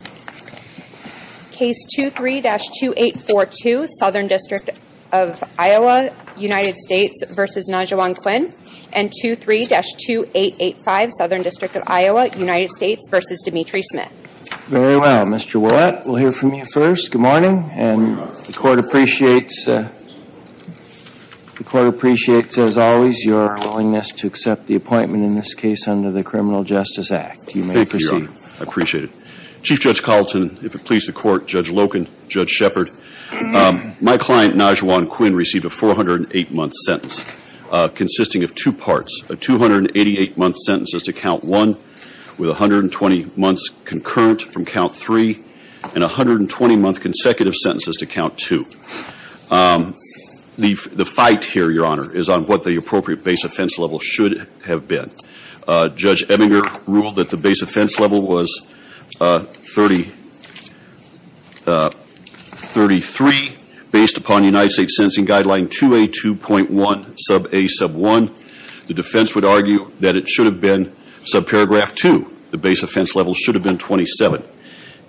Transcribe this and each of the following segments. and 23-2885 Southern District of Iowa, United States v. Demetre Smith. Very well. Mr. Willett, we'll hear from you first. Good morning. Good morning, Your Honor. The Court appreciates, as always, your willingness to accept the appointment in this case under the Criminal Justice Act. Thank you, Your Honor. I appreciate it. Chief Judge Colleton, if it pleases the Court, Judge Loken, Judge Shepard, my client, Najawaun Quinn, received a 408-month sentence consisting of two parts, a 288-month sentence as to Count 1, with 120 months concurrent from Count 3, and 120-month consecutive sentences to Count 2. The fight here, Your Honor, is on what the appropriate base offense level should have been. Judge Ebbinger ruled that the base offense level was 33, based upon United States Sentencing Guideline 2A2.1, Sub A, Sub 1. The defense would argue that it should have been, subparagraph 2, the base offense level should have been 27.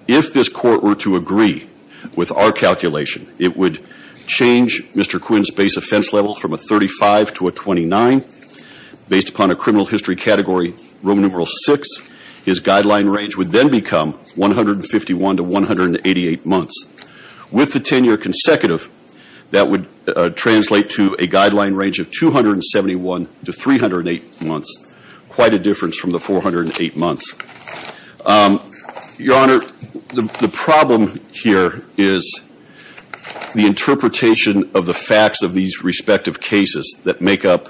If this Court were to agree with our calculation, it would change Mr. Quinn's base offense level from a 35 to a 29, based upon a criminal history category, Roman numeral 6. His guideline range would then become 151 to 188 months. With the 10-year consecutive, that would translate to a guideline range of 271 to 308 months, quite a difference from the 408 months. Your Honor, the problem here is the interpretation of the facts of these respective cases that make up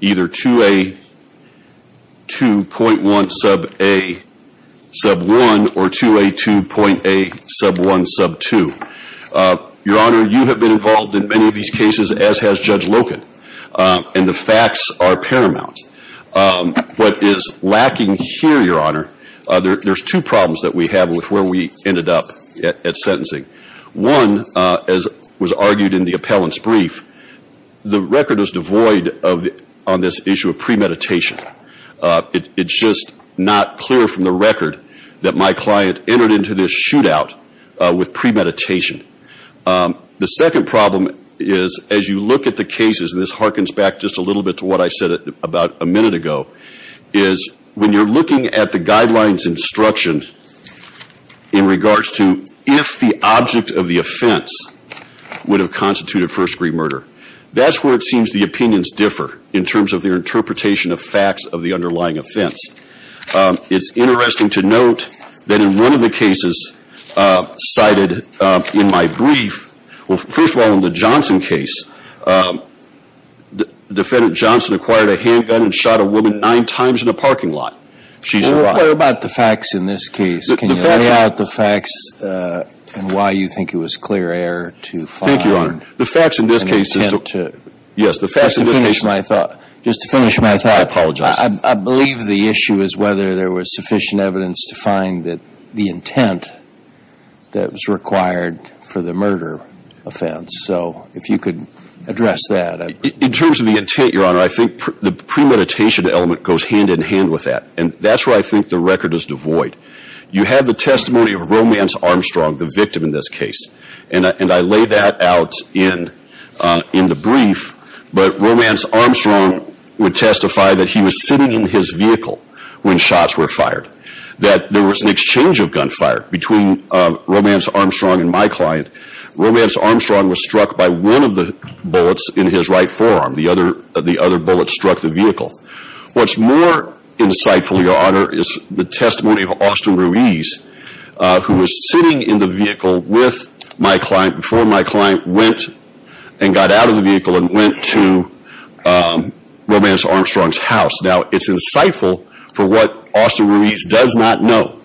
either 2A2.1, Sub A, Sub 1, or 2A2.A, Sub 1, Sub 2. Your Honor, you have been involved in many of these cases, as has Judge Loken, and the facts are paramount. What is lacking here, Your Honor, there's two problems that we have with where we ended up at sentencing. One, as was argued in the appellant's brief, the record is devoid on this issue of premeditation. It's just not clear from the record that my client entered into this shootout with premeditation. The second problem is, as you look at the cases, and this harkens back just a little bit to what I said about a minute ago, is when you're looking at the guidelines instruction in regards to if the object of the offense would have constituted first-degree murder, that's where it seems the opinions differ in terms of their interpretation of facts of the underlying offense. It's interesting to note that in one of the cases cited in my brief, well, first of all, in the Johnson case, Defendant Johnson acquired a handgun and shot a woman nine times in a parking lot. She survived. Well, what about the facts in this case? The facts. Can you lay out the facts and why you think it was clear error to find an attempt to... Thank you, Your Honor. The facts in this case... Just to finish my thought. Yes, the facts in this case... Just to finish my thought. I apologize. I believe the issue is whether there was sufficient evidence to find that the intent that was required for the murder offense, so if you could address that. In terms of the intent, Your Honor, I think the premeditation element goes hand in hand with that, and that's where I think the record is devoid. You have the testimony of Romance Armstrong, the victim in this case, and I lay that out in the brief, but Romance Armstrong would testify that he was sitting in his vehicle when shots were fired, that there was an exchange of gunfire between Romance Armstrong and my client. Romance Armstrong was struck by one of the bullets in his right forearm. The other bullet struck the vehicle. What's more insightful, Your Honor, is the testimony of Austin Ruiz, who was sitting in the vehicle before my client went and got out of the vehicle and went to Romance Armstrong's house. Now, it's insightful for what Austin Ruiz does not know.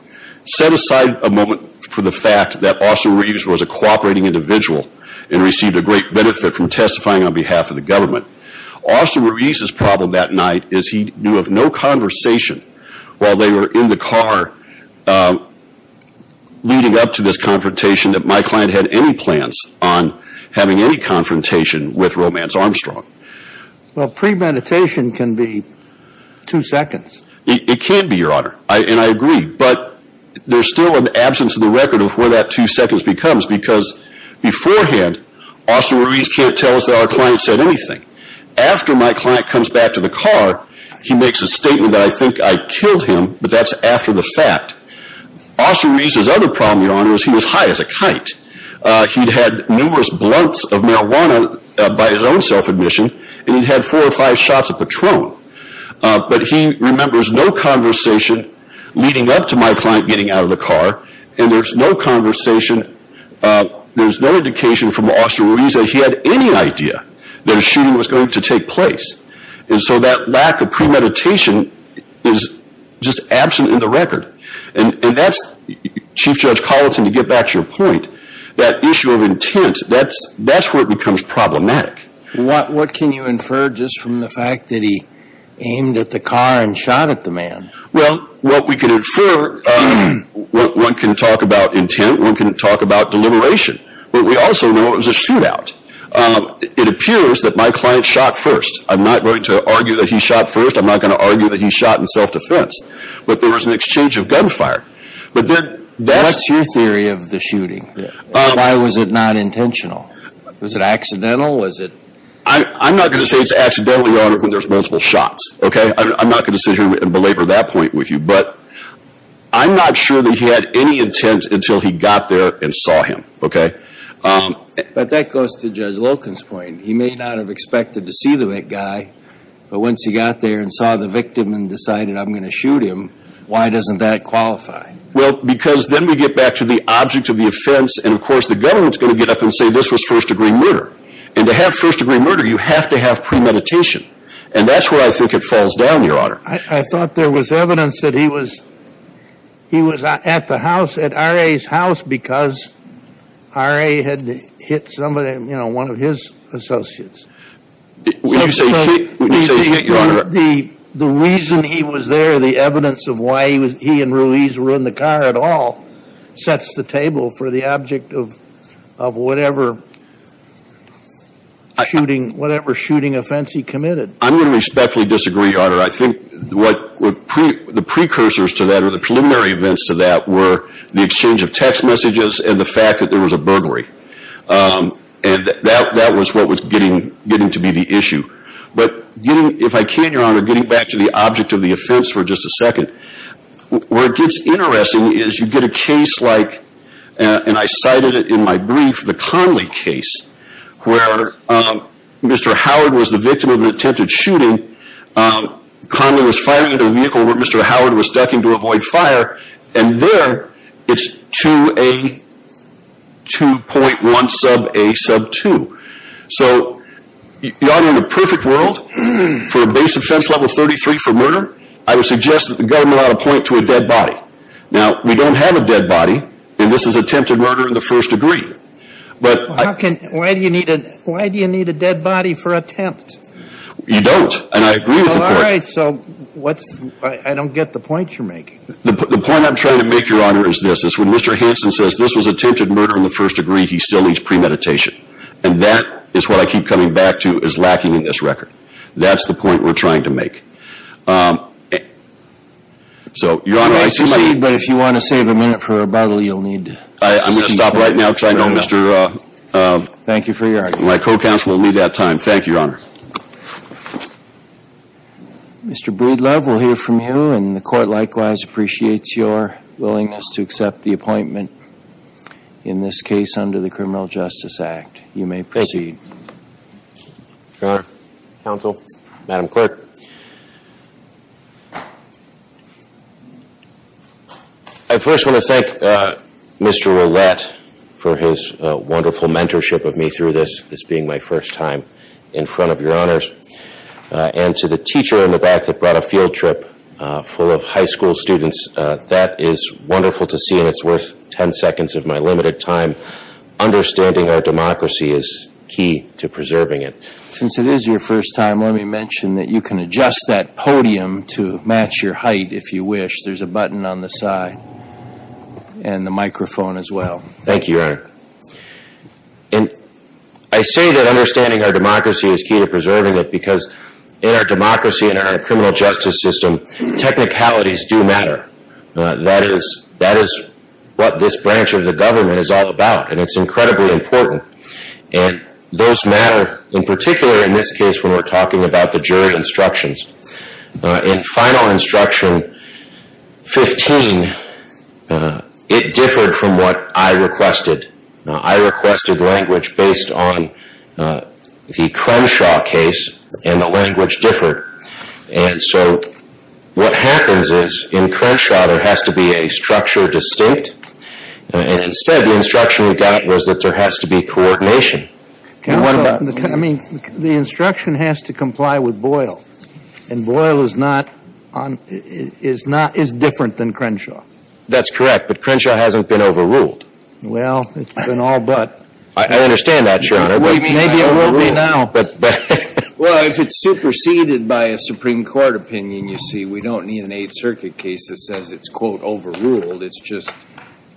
Set aside a moment for the fact that Austin Ruiz was a cooperating individual and received a great benefit from testifying on behalf of the government. Austin Ruiz's problem that night is he knew of no conversation while they were in the car leading up to this confrontation that my client had any plans on having any confrontation with Romance Armstrong. Well, premeditation can be two seconds. It can be, Your Honor, and I agree, but there's still an absence of the record of where that two seconds becomes because beforehand, Austin Ruiz can't tell us that our client said anything. After my client comes back to the car, he makes a statement that I think I killed him, but that's after the fact. Austin Ruiz's other problem, Your Honor, is he was high as a kite. He'd had numerous blunts of marijuana by his own self-admission, and he'd had four or five shots of Patron. But he remembers no conversation leading up to my client getting out of the car, and there's no conversation, there's no indication from Austin Ruiz that he had any idea that a shooting was going to take place. And so that lack of premeditation is just absent in the record. And that's, Chief Judge Colleton, to get back to your point, that issue of intent, that's where it becomes problematic. What can you infer just from the fact that he aimed at the car and shot at the man? Well, what we can infer, one can talk about intent, one can talk about deliberation. But we also know it was a shootout. It appears that my client shot first. I'm not going to argue that he shot first. I'm not going to argue that he shot in self-defense. But there was an exchange of gunfire. What's your theory of the shooting? Why was it not intentional? Was it accidental? I'm not going to say it's accidental, Your Honor, when there's multiple shots. Okay? I'm not going to sit here and belabor that point with you. But I'm not sure that he had any intent until he got there and saw him. Okay? But that goes to Judge Loken's point. He may not have expected to see the guy. But once he got there and saw the victim and decided, I'm going to shoot him, why doesn't that qualify? Well, because then we get back to the object of the offense. And, of course, the government's going to get up and say this was first-degree murder. And to have first-degree murder, you have to have premeditation. And that's where I think it falls down, Your Honor. I thought there was evidence that he was at the house, at R.A.'s house, because R.A. had hit somebody, you know, one of his associates. We didn't say he hit you, Your Honor. The reason he was there, the evidence of why he and Ruiz were in the car at all, sets the table for the object of whatever shooting offense he committed. I'm going to respectfully disagree, Your Honor. I think the precursors to that or the preliminary events to that were the exchange of text messages and the fact that there was a burglary. And that was what was getting to be the issue. But if I can, Your Honor, getting back to the object of the offense for just a second, where it gets interesting is you get a case like, and I cited it in my brief, the Conley case, where Mr. Howard was the victim of an attempted shooting. Conley was firing at a vehicle where Mr. Howard was ducking to avoid fire. And there, it's 2A, 2.1 sub A sub 2. So, Your Honor, in the perfect world, for a base offense level 33 for murder, I would suggest that the government ought to point to a dead body. Now, we don't have a dead body, and this is attempted murder in the first degree. Why do you need a dead body for attempt? You don't, and I agree with the point. All right, so I don't get the point you're making. The point I'm trying to make, Your Honor, is this. It's when Mr. Hanson says this was attempted murder in the first degree, he still needs premeditation. And that is what I keep coming back to as lacking in this record. That's the point we're trying to make. So, Your Honor, I see my time. But if you want to save a minute for rebuttal, you'll need to. I'm going to stop right now because I know Mr. Thank you for your argument. My co-counsel will need that time. Thank you, Your Honor. Mr. Breedlove, we'll hear from you, and the court likewise appreciates your willingness to accept the appointment, in this case, under the Criminal Justice Act. You may proceed. Thank you. Counsel, Madam Clerk. I first want to thank Mr. Ouellette for his wonderful mentorship of me through this, this being my first time in front of Your Honors, and to the teacher in the back that brought a field trip full of high school students. That is wonderful to see, and it's worth ten seconds of my limited time. Understanding our democracy is key to preserving it. Since it is your first time, let me mention that you can adjust that podium to match your height if you wish. There's a button on the side and the microphone as well. Thank you, Your Honor. I say that understanding our democracy is key to preserving it because in our democracy, in our criminal justice system, technicalities do matter. That is what this branch of the government is all about, and it's incredibly important. Those matter in particular in this case when we're talking about the jury instructions. In Final Instruction 15, it differed from what I requested. I requested language based on the Crenshaw case, and the language differed. What happens is, in Crenshaw, there has to be a structure distinct, and instead the instruction we got was that there has to be coordination. I mean, the instruction has to comply with Boyle, and Boyle is different than Crenshaw. That's correct, but Crenshaw hasn't been overruled. Well, it's been all but. I understand that, Your Honor. What do you mean by overruled? Well, if it's superseded by a Supreme Court opinion, you see, we don't need an Eighth Circuit case that says it's quote overruled. It's just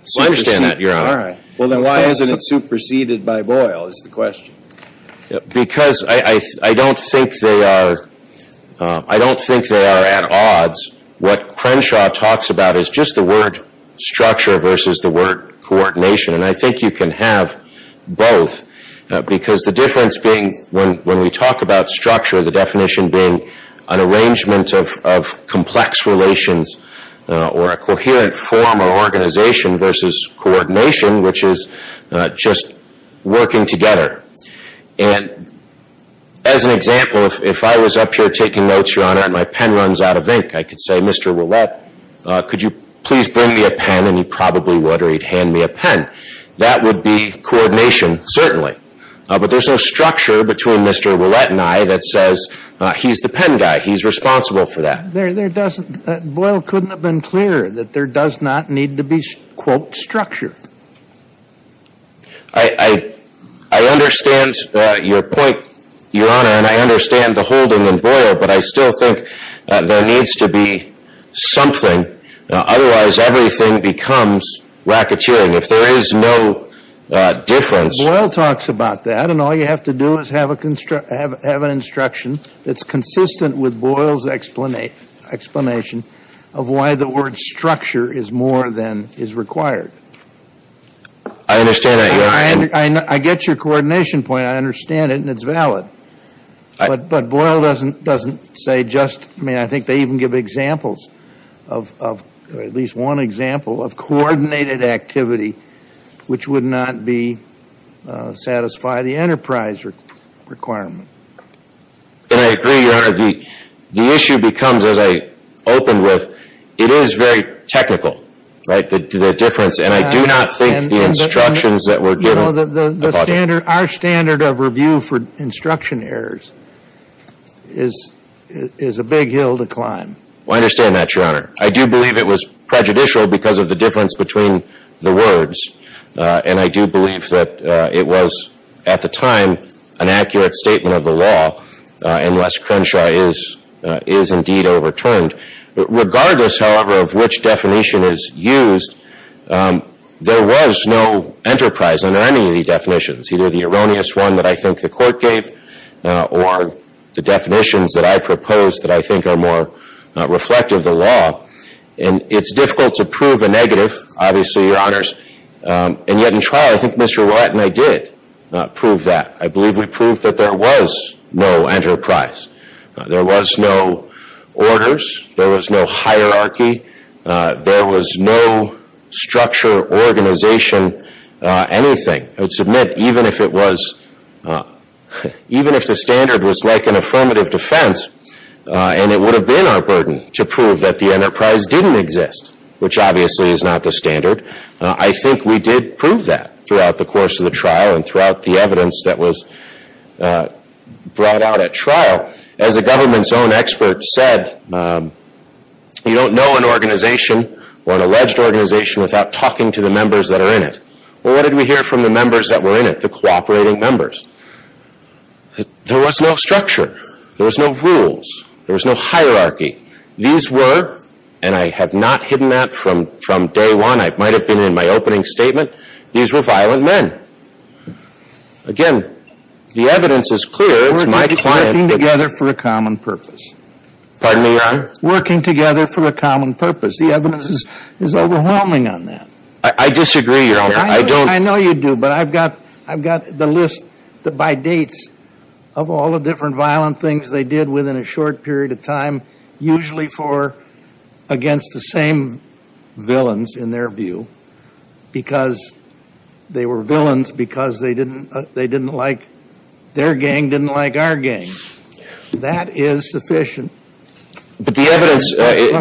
superseded. Well, I understand that, Your Honor. All right. Well, then why isn't it superseded by Boyle is the question. Because I don't think they are at odds. What Crenshaw talks about is just the word structure versus the word coordination, and I think you can have both because the difference being when we talk about structure, the definition being an arrangement of complex relations or a coherent form or organization versus coordination, which is just working together. And as an example, if I was up here taking notes, Your Honor, and my pen runs out of ink, I could say, Mr. Ouellette, could you please bring me a pen, and he probably would, or he'd hand me a pen. That would be coordination, certainly. But there's no structure between Mr. Ouellette and I that says he's the pen guy. He's responsible for that. Boyle couldn't have been clearer that there does not need to be, quote, structure. I understand your point, Your Honor, and I understand the holding in Boyle, but I still think there needs to be something. Otherwise, everything becomes racketeering. If there is no difference. Boyle talks about that, and all you have to do is have an instruction that's consistent with Boyle's explanation of why the word structure is more than is required. I understand that, Your Honor. I get your coordination point. I understand it, and it's valid. But Boyle doesn't say just, I mean, I think they even give examples of, at least one example of coordinated activity which would not satisfy the enterprise requirement. And I agree, Your Honor. The issue becomes, as I opened with, it is very technical, right, the difference. And I do not think the instructions that were given. You know, our standard of review for instruction errors is a big hill to climb. Well, I understand that, Your Honor. I do believe it was prejudicial because of the difference between the words. And I do believe that it was, at the time, an accurate statement of the law, unless Crenshaw is indeed overturned. Regardless, however, of which definition is used, there was no enterprise under any of the definitions, either the erroneous one that I think the court gave or the definitions that I proposed that I think are more reflective of the law. And it's difficult to prove a negative, obviously, Your Honors. And yet, in trial, I think Mr. Warren and I did prove that. I believe we proved that there was no enterprise. There was no orders. There was no hierarchy. There was no structure, organization, anything. I would submit, even if the standard was like an affirmative defense and it would have been our burden to prove that the enterprise didn't exist, which obviously is not the standard, I think we did prove that throughout the course of the trial and throughout the evidence that was brought out at trial. As a government's own expert said, you don't know an organization or an alleged organization without talking to the members that are in it. Well, what did we hear from the members that were in it, the cooperating members? There was no structure. There was no rules. There was no hierarchy. These were, and I have not hidden that from day one. I might have been in my opening statement. These were violent men. Again, the evidence is clear. It's my client. Working together for a common purpose. Pardon me, Your Honor? Working together for a common purpose. The evidence is overwhelming on that. I disagree, Your Honor. I know you do, but I've got the list by dates of all the different violent things they did within a short period of time, usually against the same villains, in their view, because they were villains because they didn't like their gang, didn't like our gang. That is sufficient. But the evidence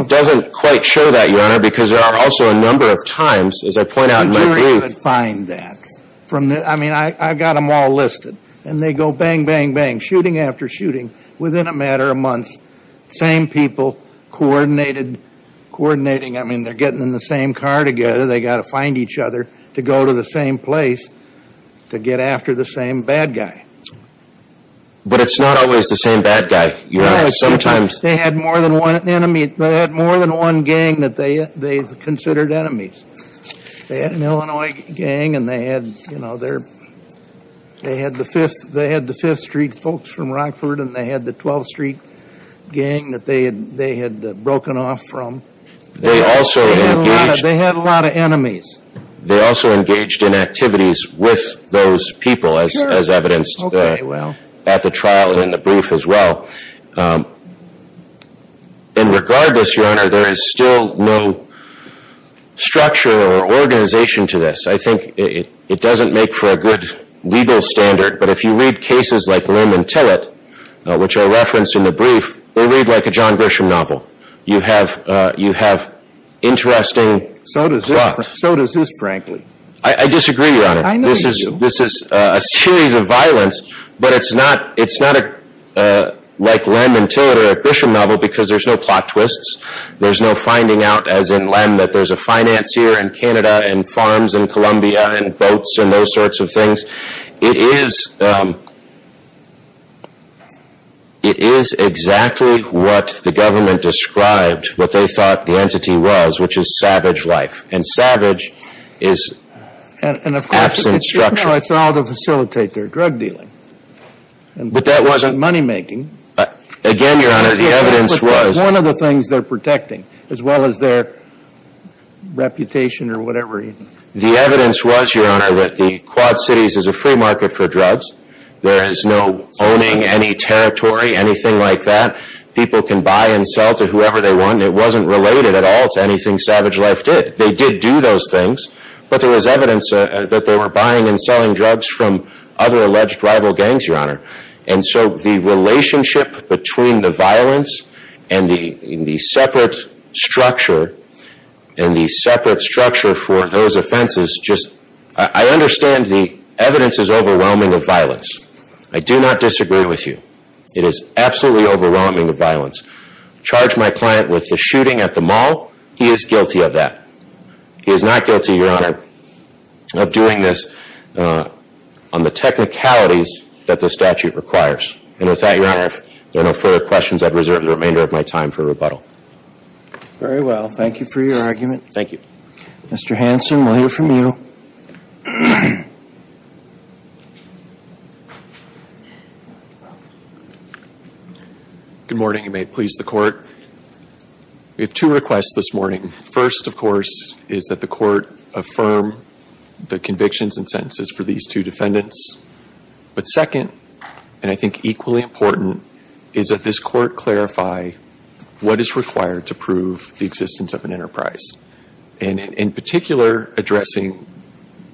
doesn't quite show that, Your Honor, because there are also a number of times, as I point out in my brief. The jury would find that. I mean, I've got them all listed, and they go bang, bang, bang, shooting after shooting, within a matter of months, same people coordinating. I mean, they're getting in the same car together. They've got to find each other to go to the same place to get after the same bad guy. But it's not always the same bad guy, Your Honor. They had more than one gang that they considered enemies. They had an Illinois gang, and they had the Fifth Street folks from Rockford, and they had the 12th Street gang that they had broken off from. They had a lot of enemies. They also engaged in activities with those people, as evidenced at the trial and in the brief as well. And regardless, Your Honor, there is still no structure or organization to this. I think it doesn't make for a good legal standard. But if you read cases like Lim and Tillett, which are referenced in the brief, they read like a John Grisham novel. You have interesting plots. So does this, frankly. I disagree, Your Honor. I know you do. This is a series of violence, but it's not like Lim and Tillett or a Grisham novel because there's no plot twists. There's no finding out, as in Lim, that there's a financier in Canada and farms in Columbia and boats and those sorts of things. It is exactly what the government described what they thought the entity was, which is savage life. And savage is absent structure. And, of course, it's all to facilitate their drug dealing. But that wasn't money making. Again, Your Honor, the evidence was. But that's one of the things they're protecting, as well as their reputation or whatever. The evidence was, Your Honor, that the Quad Cities is a free market for drugs. There is no owning any territory, anything like that. People can buy and sell to whoever they want. It wasn't related at all to anything Savage Life did. They did do those things, but there was evidence that they were buying and selling drugs from other alleged rival gangs, Your Honor. And so the relationship between the violence and the separate structure and the separate structure for those offenses just, I understand the evidence is overwhelming of violence. I do not disagree with you. It is absolutely overwhelming of violence. I charge my client with the shooting at the mall. He is guilty of that. He is not guilty, Your Honor, of doing this on the technicalities that the statute requires. And with that, Your Honor, if there are no further questions, I reserve the remainder of my time for rebuttal. Very well. Thank you for your argument. Thank you. Mr. Hanson, we'll hear from you. Good morning. You may please the court. We have two requests this morning. First, of course, is that the court affirm the convictions and sentences for these two defendants. But second, and I think equally important, is that this court clarify what is required to prove the existence of an enterprise. And in particular, addressing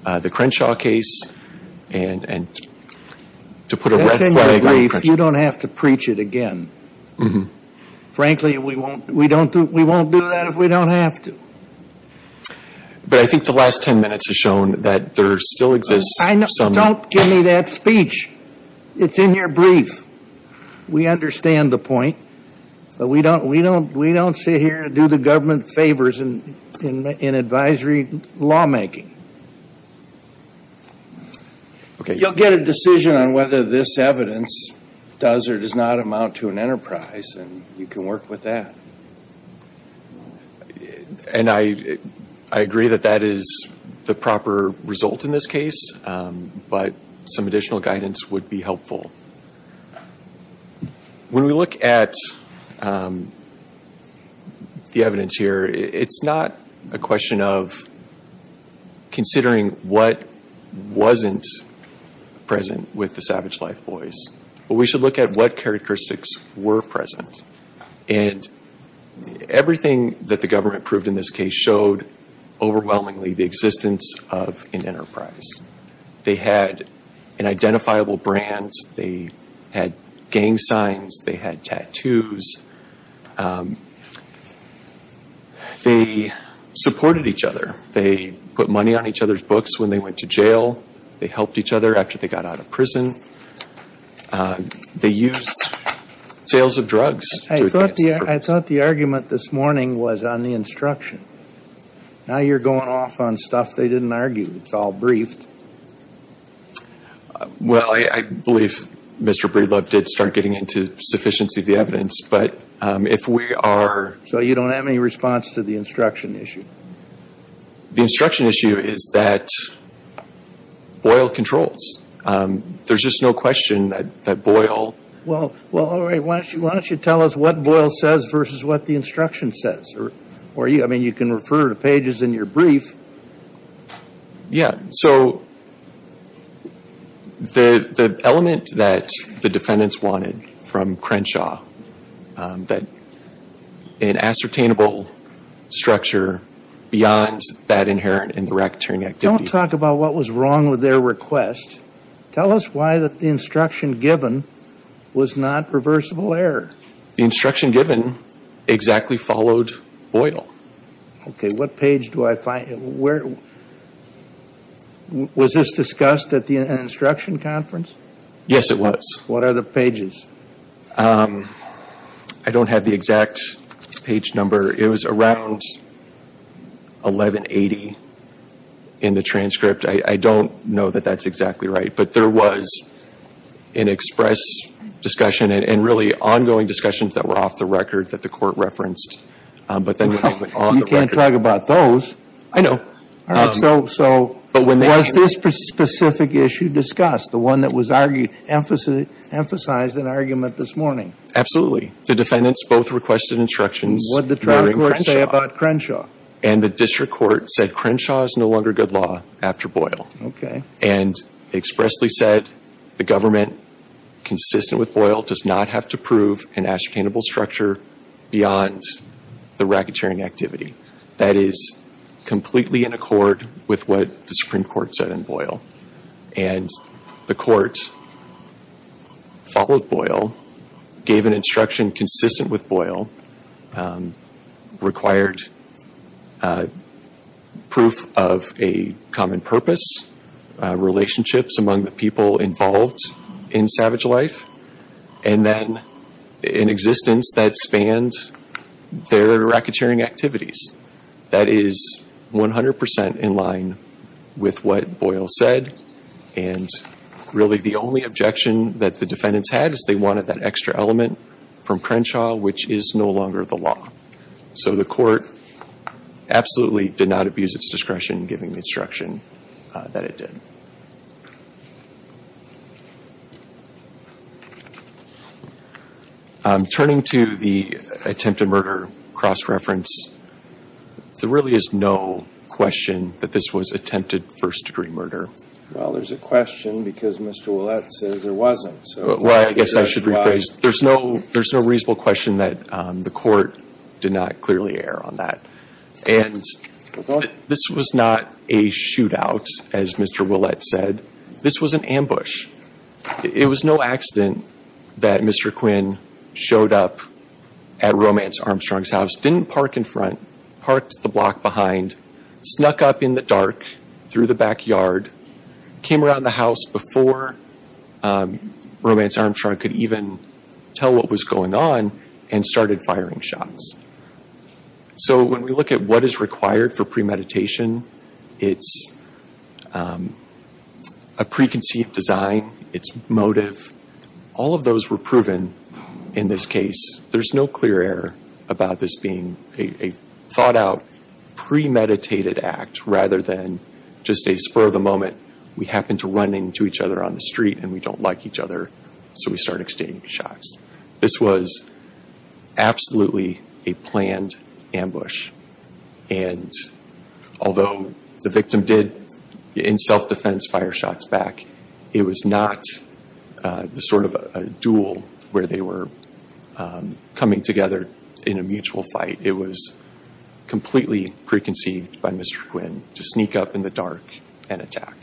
the Crenshaw case and to put a red flag on Crenshaw. You don't have to preach it again. Frankly, we won't do that if we don't have to. But I think the last ten minutes has shown that there still exists some. Don't give me that speech. It's in your brief. We understand the point. But we don't sit here and do the government favors in advisory lawmaking. You'll get a decision on whether this evidence does or does not amount to an enterprise, and you can work with that. And I agree that that is the proper result in this case, but some additional guidance would be helpful. When we look at the evidence here, it's not a question of considering what wasn't present with the Savage Life Boys. But we should look at what characteristics were present. And everything that the government proved in this case showed overwhelmingly the existence of an enterprise. They had an identifiable brand. They had gang signs. They had tattoos. They supported each other. They put money on each other's books when they went to jail. They helped each other after they got out of prison. They used sales of drugs. I thought the argument this morning was on the instruction. Now you're going off on stuff they didn't argue. It's all briefed. Well, I believe Mr. Breedlove did start getting into sufficiency of the evidence. But if we are... So you don't have any response to the instruction issue? The instruction issue is that Boyle controls. There's just no question that Boyle... Well, all right. Why don't you tell us what Boyle says versus what the instruction says? I mean, you can refer to pages in your brief. Yeah. So the element that the defendants wanted from Crenshaw, that an ascertainable structure beyond that inherent in the racketeering activity... Don't talk about what was wrong with their request. Tell us why the instruction given was not reversible error. The instruction given exactly followed Boyle. Okay. What page do I find? Was this discussed at the instruction conference? Yes, it was. What are the pages? I don't have the exact page number. It was around 1180 in the transcript. I don't know that that's exactly right. But there was an express discussion and really ongoing discussions that were off the record that the court referenced. You can't talk about those. I know. All right. So was this specific issue discussed, the one that was emphasized in argument this morning? Absolutely. The defendants both requested instructions. What did the trial court say about Crenshaw? And the district court said Crenshaw is no longer good law after Boyle. Okay. And expressly said the government, consistent with Boyle, does not have to prove an ascertainable structure beyond the racketeering activity. That is completely in accord with what the Supreme Court said in Boyle. And the court followed Boyle, gave an instruction consistent with Boyle, required proof of a common purpose, relationships among the people involved in savage life, and then an existence that spanned their racketeering activities. That is 100% in line with what Boyle said. And really the only objection that the defendants had is they wanted that extra element from Crenshaw, which is no longer the law. So the court absolutely did not abuse its discretion, giving the instruction that it did. Turning to the attempted murder cross-reference, there really is no question that this was attempted first-degree murder. Well, there's a question because Mr. Ouellette says there wasn't. Well, I guess I should rephrase. There's no reasonable question that the court did not clearly err on that. And this was not a shootout, as Mr. Ouellette said. This was an ambush. It was no accident that Mr. Quinn showed up at Romance Armstrong's house, didn't park in front, parked the block behind, snuck up in the dark through the backyard, came around the house before Romance Armstrong could even tell what was going on, and started firing shots. So when we look at what is required for premeditation, it's a preconceived design. It's motive. All of those were proven in this case. There's no clear error about this being a thought-out premeditated act rather than just a spur-of-the-moment, we happen to run into each other on the street and we don't like each other, so we start exchanging shots. This was absolutely a planned ambush. And although the victim did, in self-defense, fire shots back, it was not the sort of a duel where they were coming together in a mutual fight. It was completely preconceived by Mr. Quinn to sneak up in the dark and attack.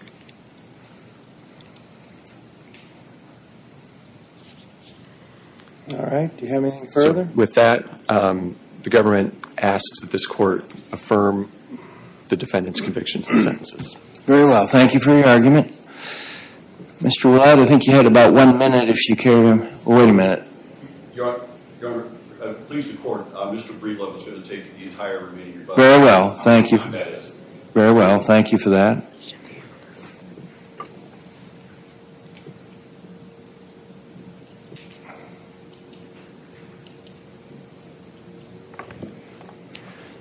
All right, do you have anything further? So with that, the government asks that this court affirm the defendant's convictions and sentences. Very well, thank you for your argument. Mr. Watt, I think you had about one minute if you care. Wait a minute. Your Honor, please report. Mr. Breedlove is going to take the entire remaining rebuttal. Very well, thank you. Very well, thank you for that.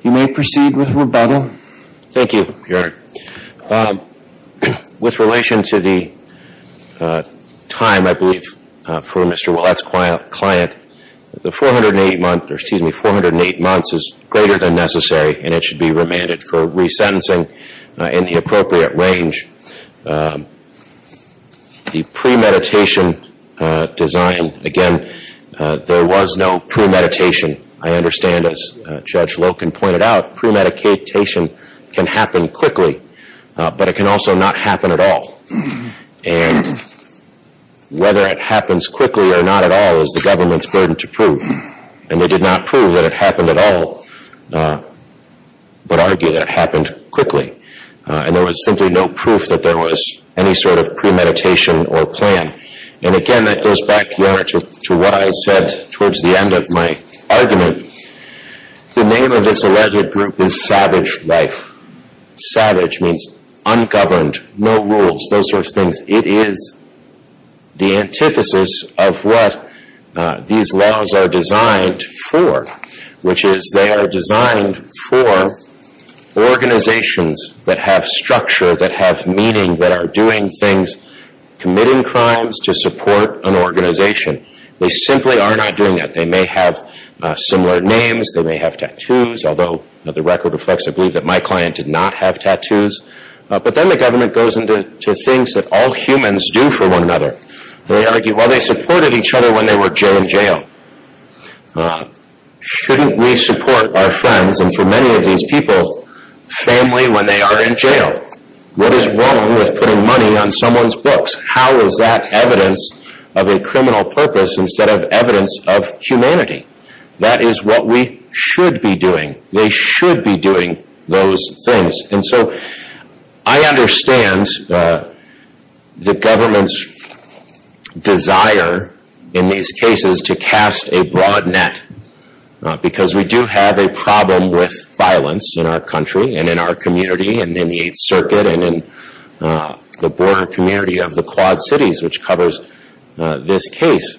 You may proceed with rebuttal. Thank you, Your Honor. With relation to the time, I believe, for Mr. Ouellette's client, the 408 months is greater than necessary and it should be remanded for resentencing in the appropriate range. The premeditation design, again, there was no premeditation. I understand, as Judge Loken pointed out, premeditation can happen quickly, but it can also not happen at all. And whether it happens quickly or not at all is the government's burden to prove. And they did not prove that it happened at all, but argue that it happened quickly. And there was simply no proof that there was any sort of premeditation or plan. And again, that goes back, Your Honor, to what I said towards the end of my argument. The name of this alleged group is Savage Life. Savage means ungoverned, no rules, those sorts of things. It is the antithesis of what these laws are designed for, which is they are designed for organizations that have structure, that have meaning, that are doing things, committing crimes to support an organization. They simply are not doing that. They may have similar names. They may have tattoos, although the record reflects, I believe, that my client did not have tattoos. But then the government goes into things that all humans do for one another. They argue, well, they supported each other when they were in jail. Shouldn't we support our friends, and for many of these people, family, when they are in jail? What is wrong with putting money on someone's books? How is that evidence of a criminal purpose instead of evidence of humanity? That is what we should be doing. They should be doing those things. And so I understand the government's desire in these cases to cast a broad net, because we do have a problem with violence in our country and in our community and in the Eighth Circuit and in the border community of the Quad Cities, which covers this case.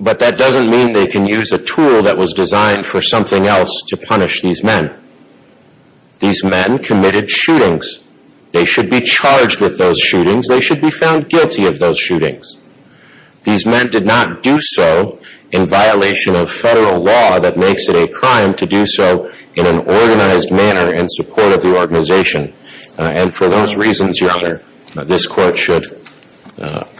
But that doesn't mean they can use a tool that was designed for something else to punish these men. These men committed shootings. They should be charged with those shootings. They should be found guilty of those shootings. These men did not do so in violation of federal law that makes it a crime to do so in an organized manner in support of the organization. And for those reasons, Your Honor, this Court should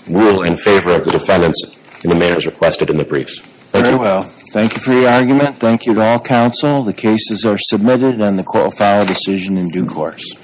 rule in favor of the defendants in the manners requested in the briefs. Thank you. Very well. Thank you for your argument. Thank you to all counsel. The cases are submitted, and the court will file a decision in due course.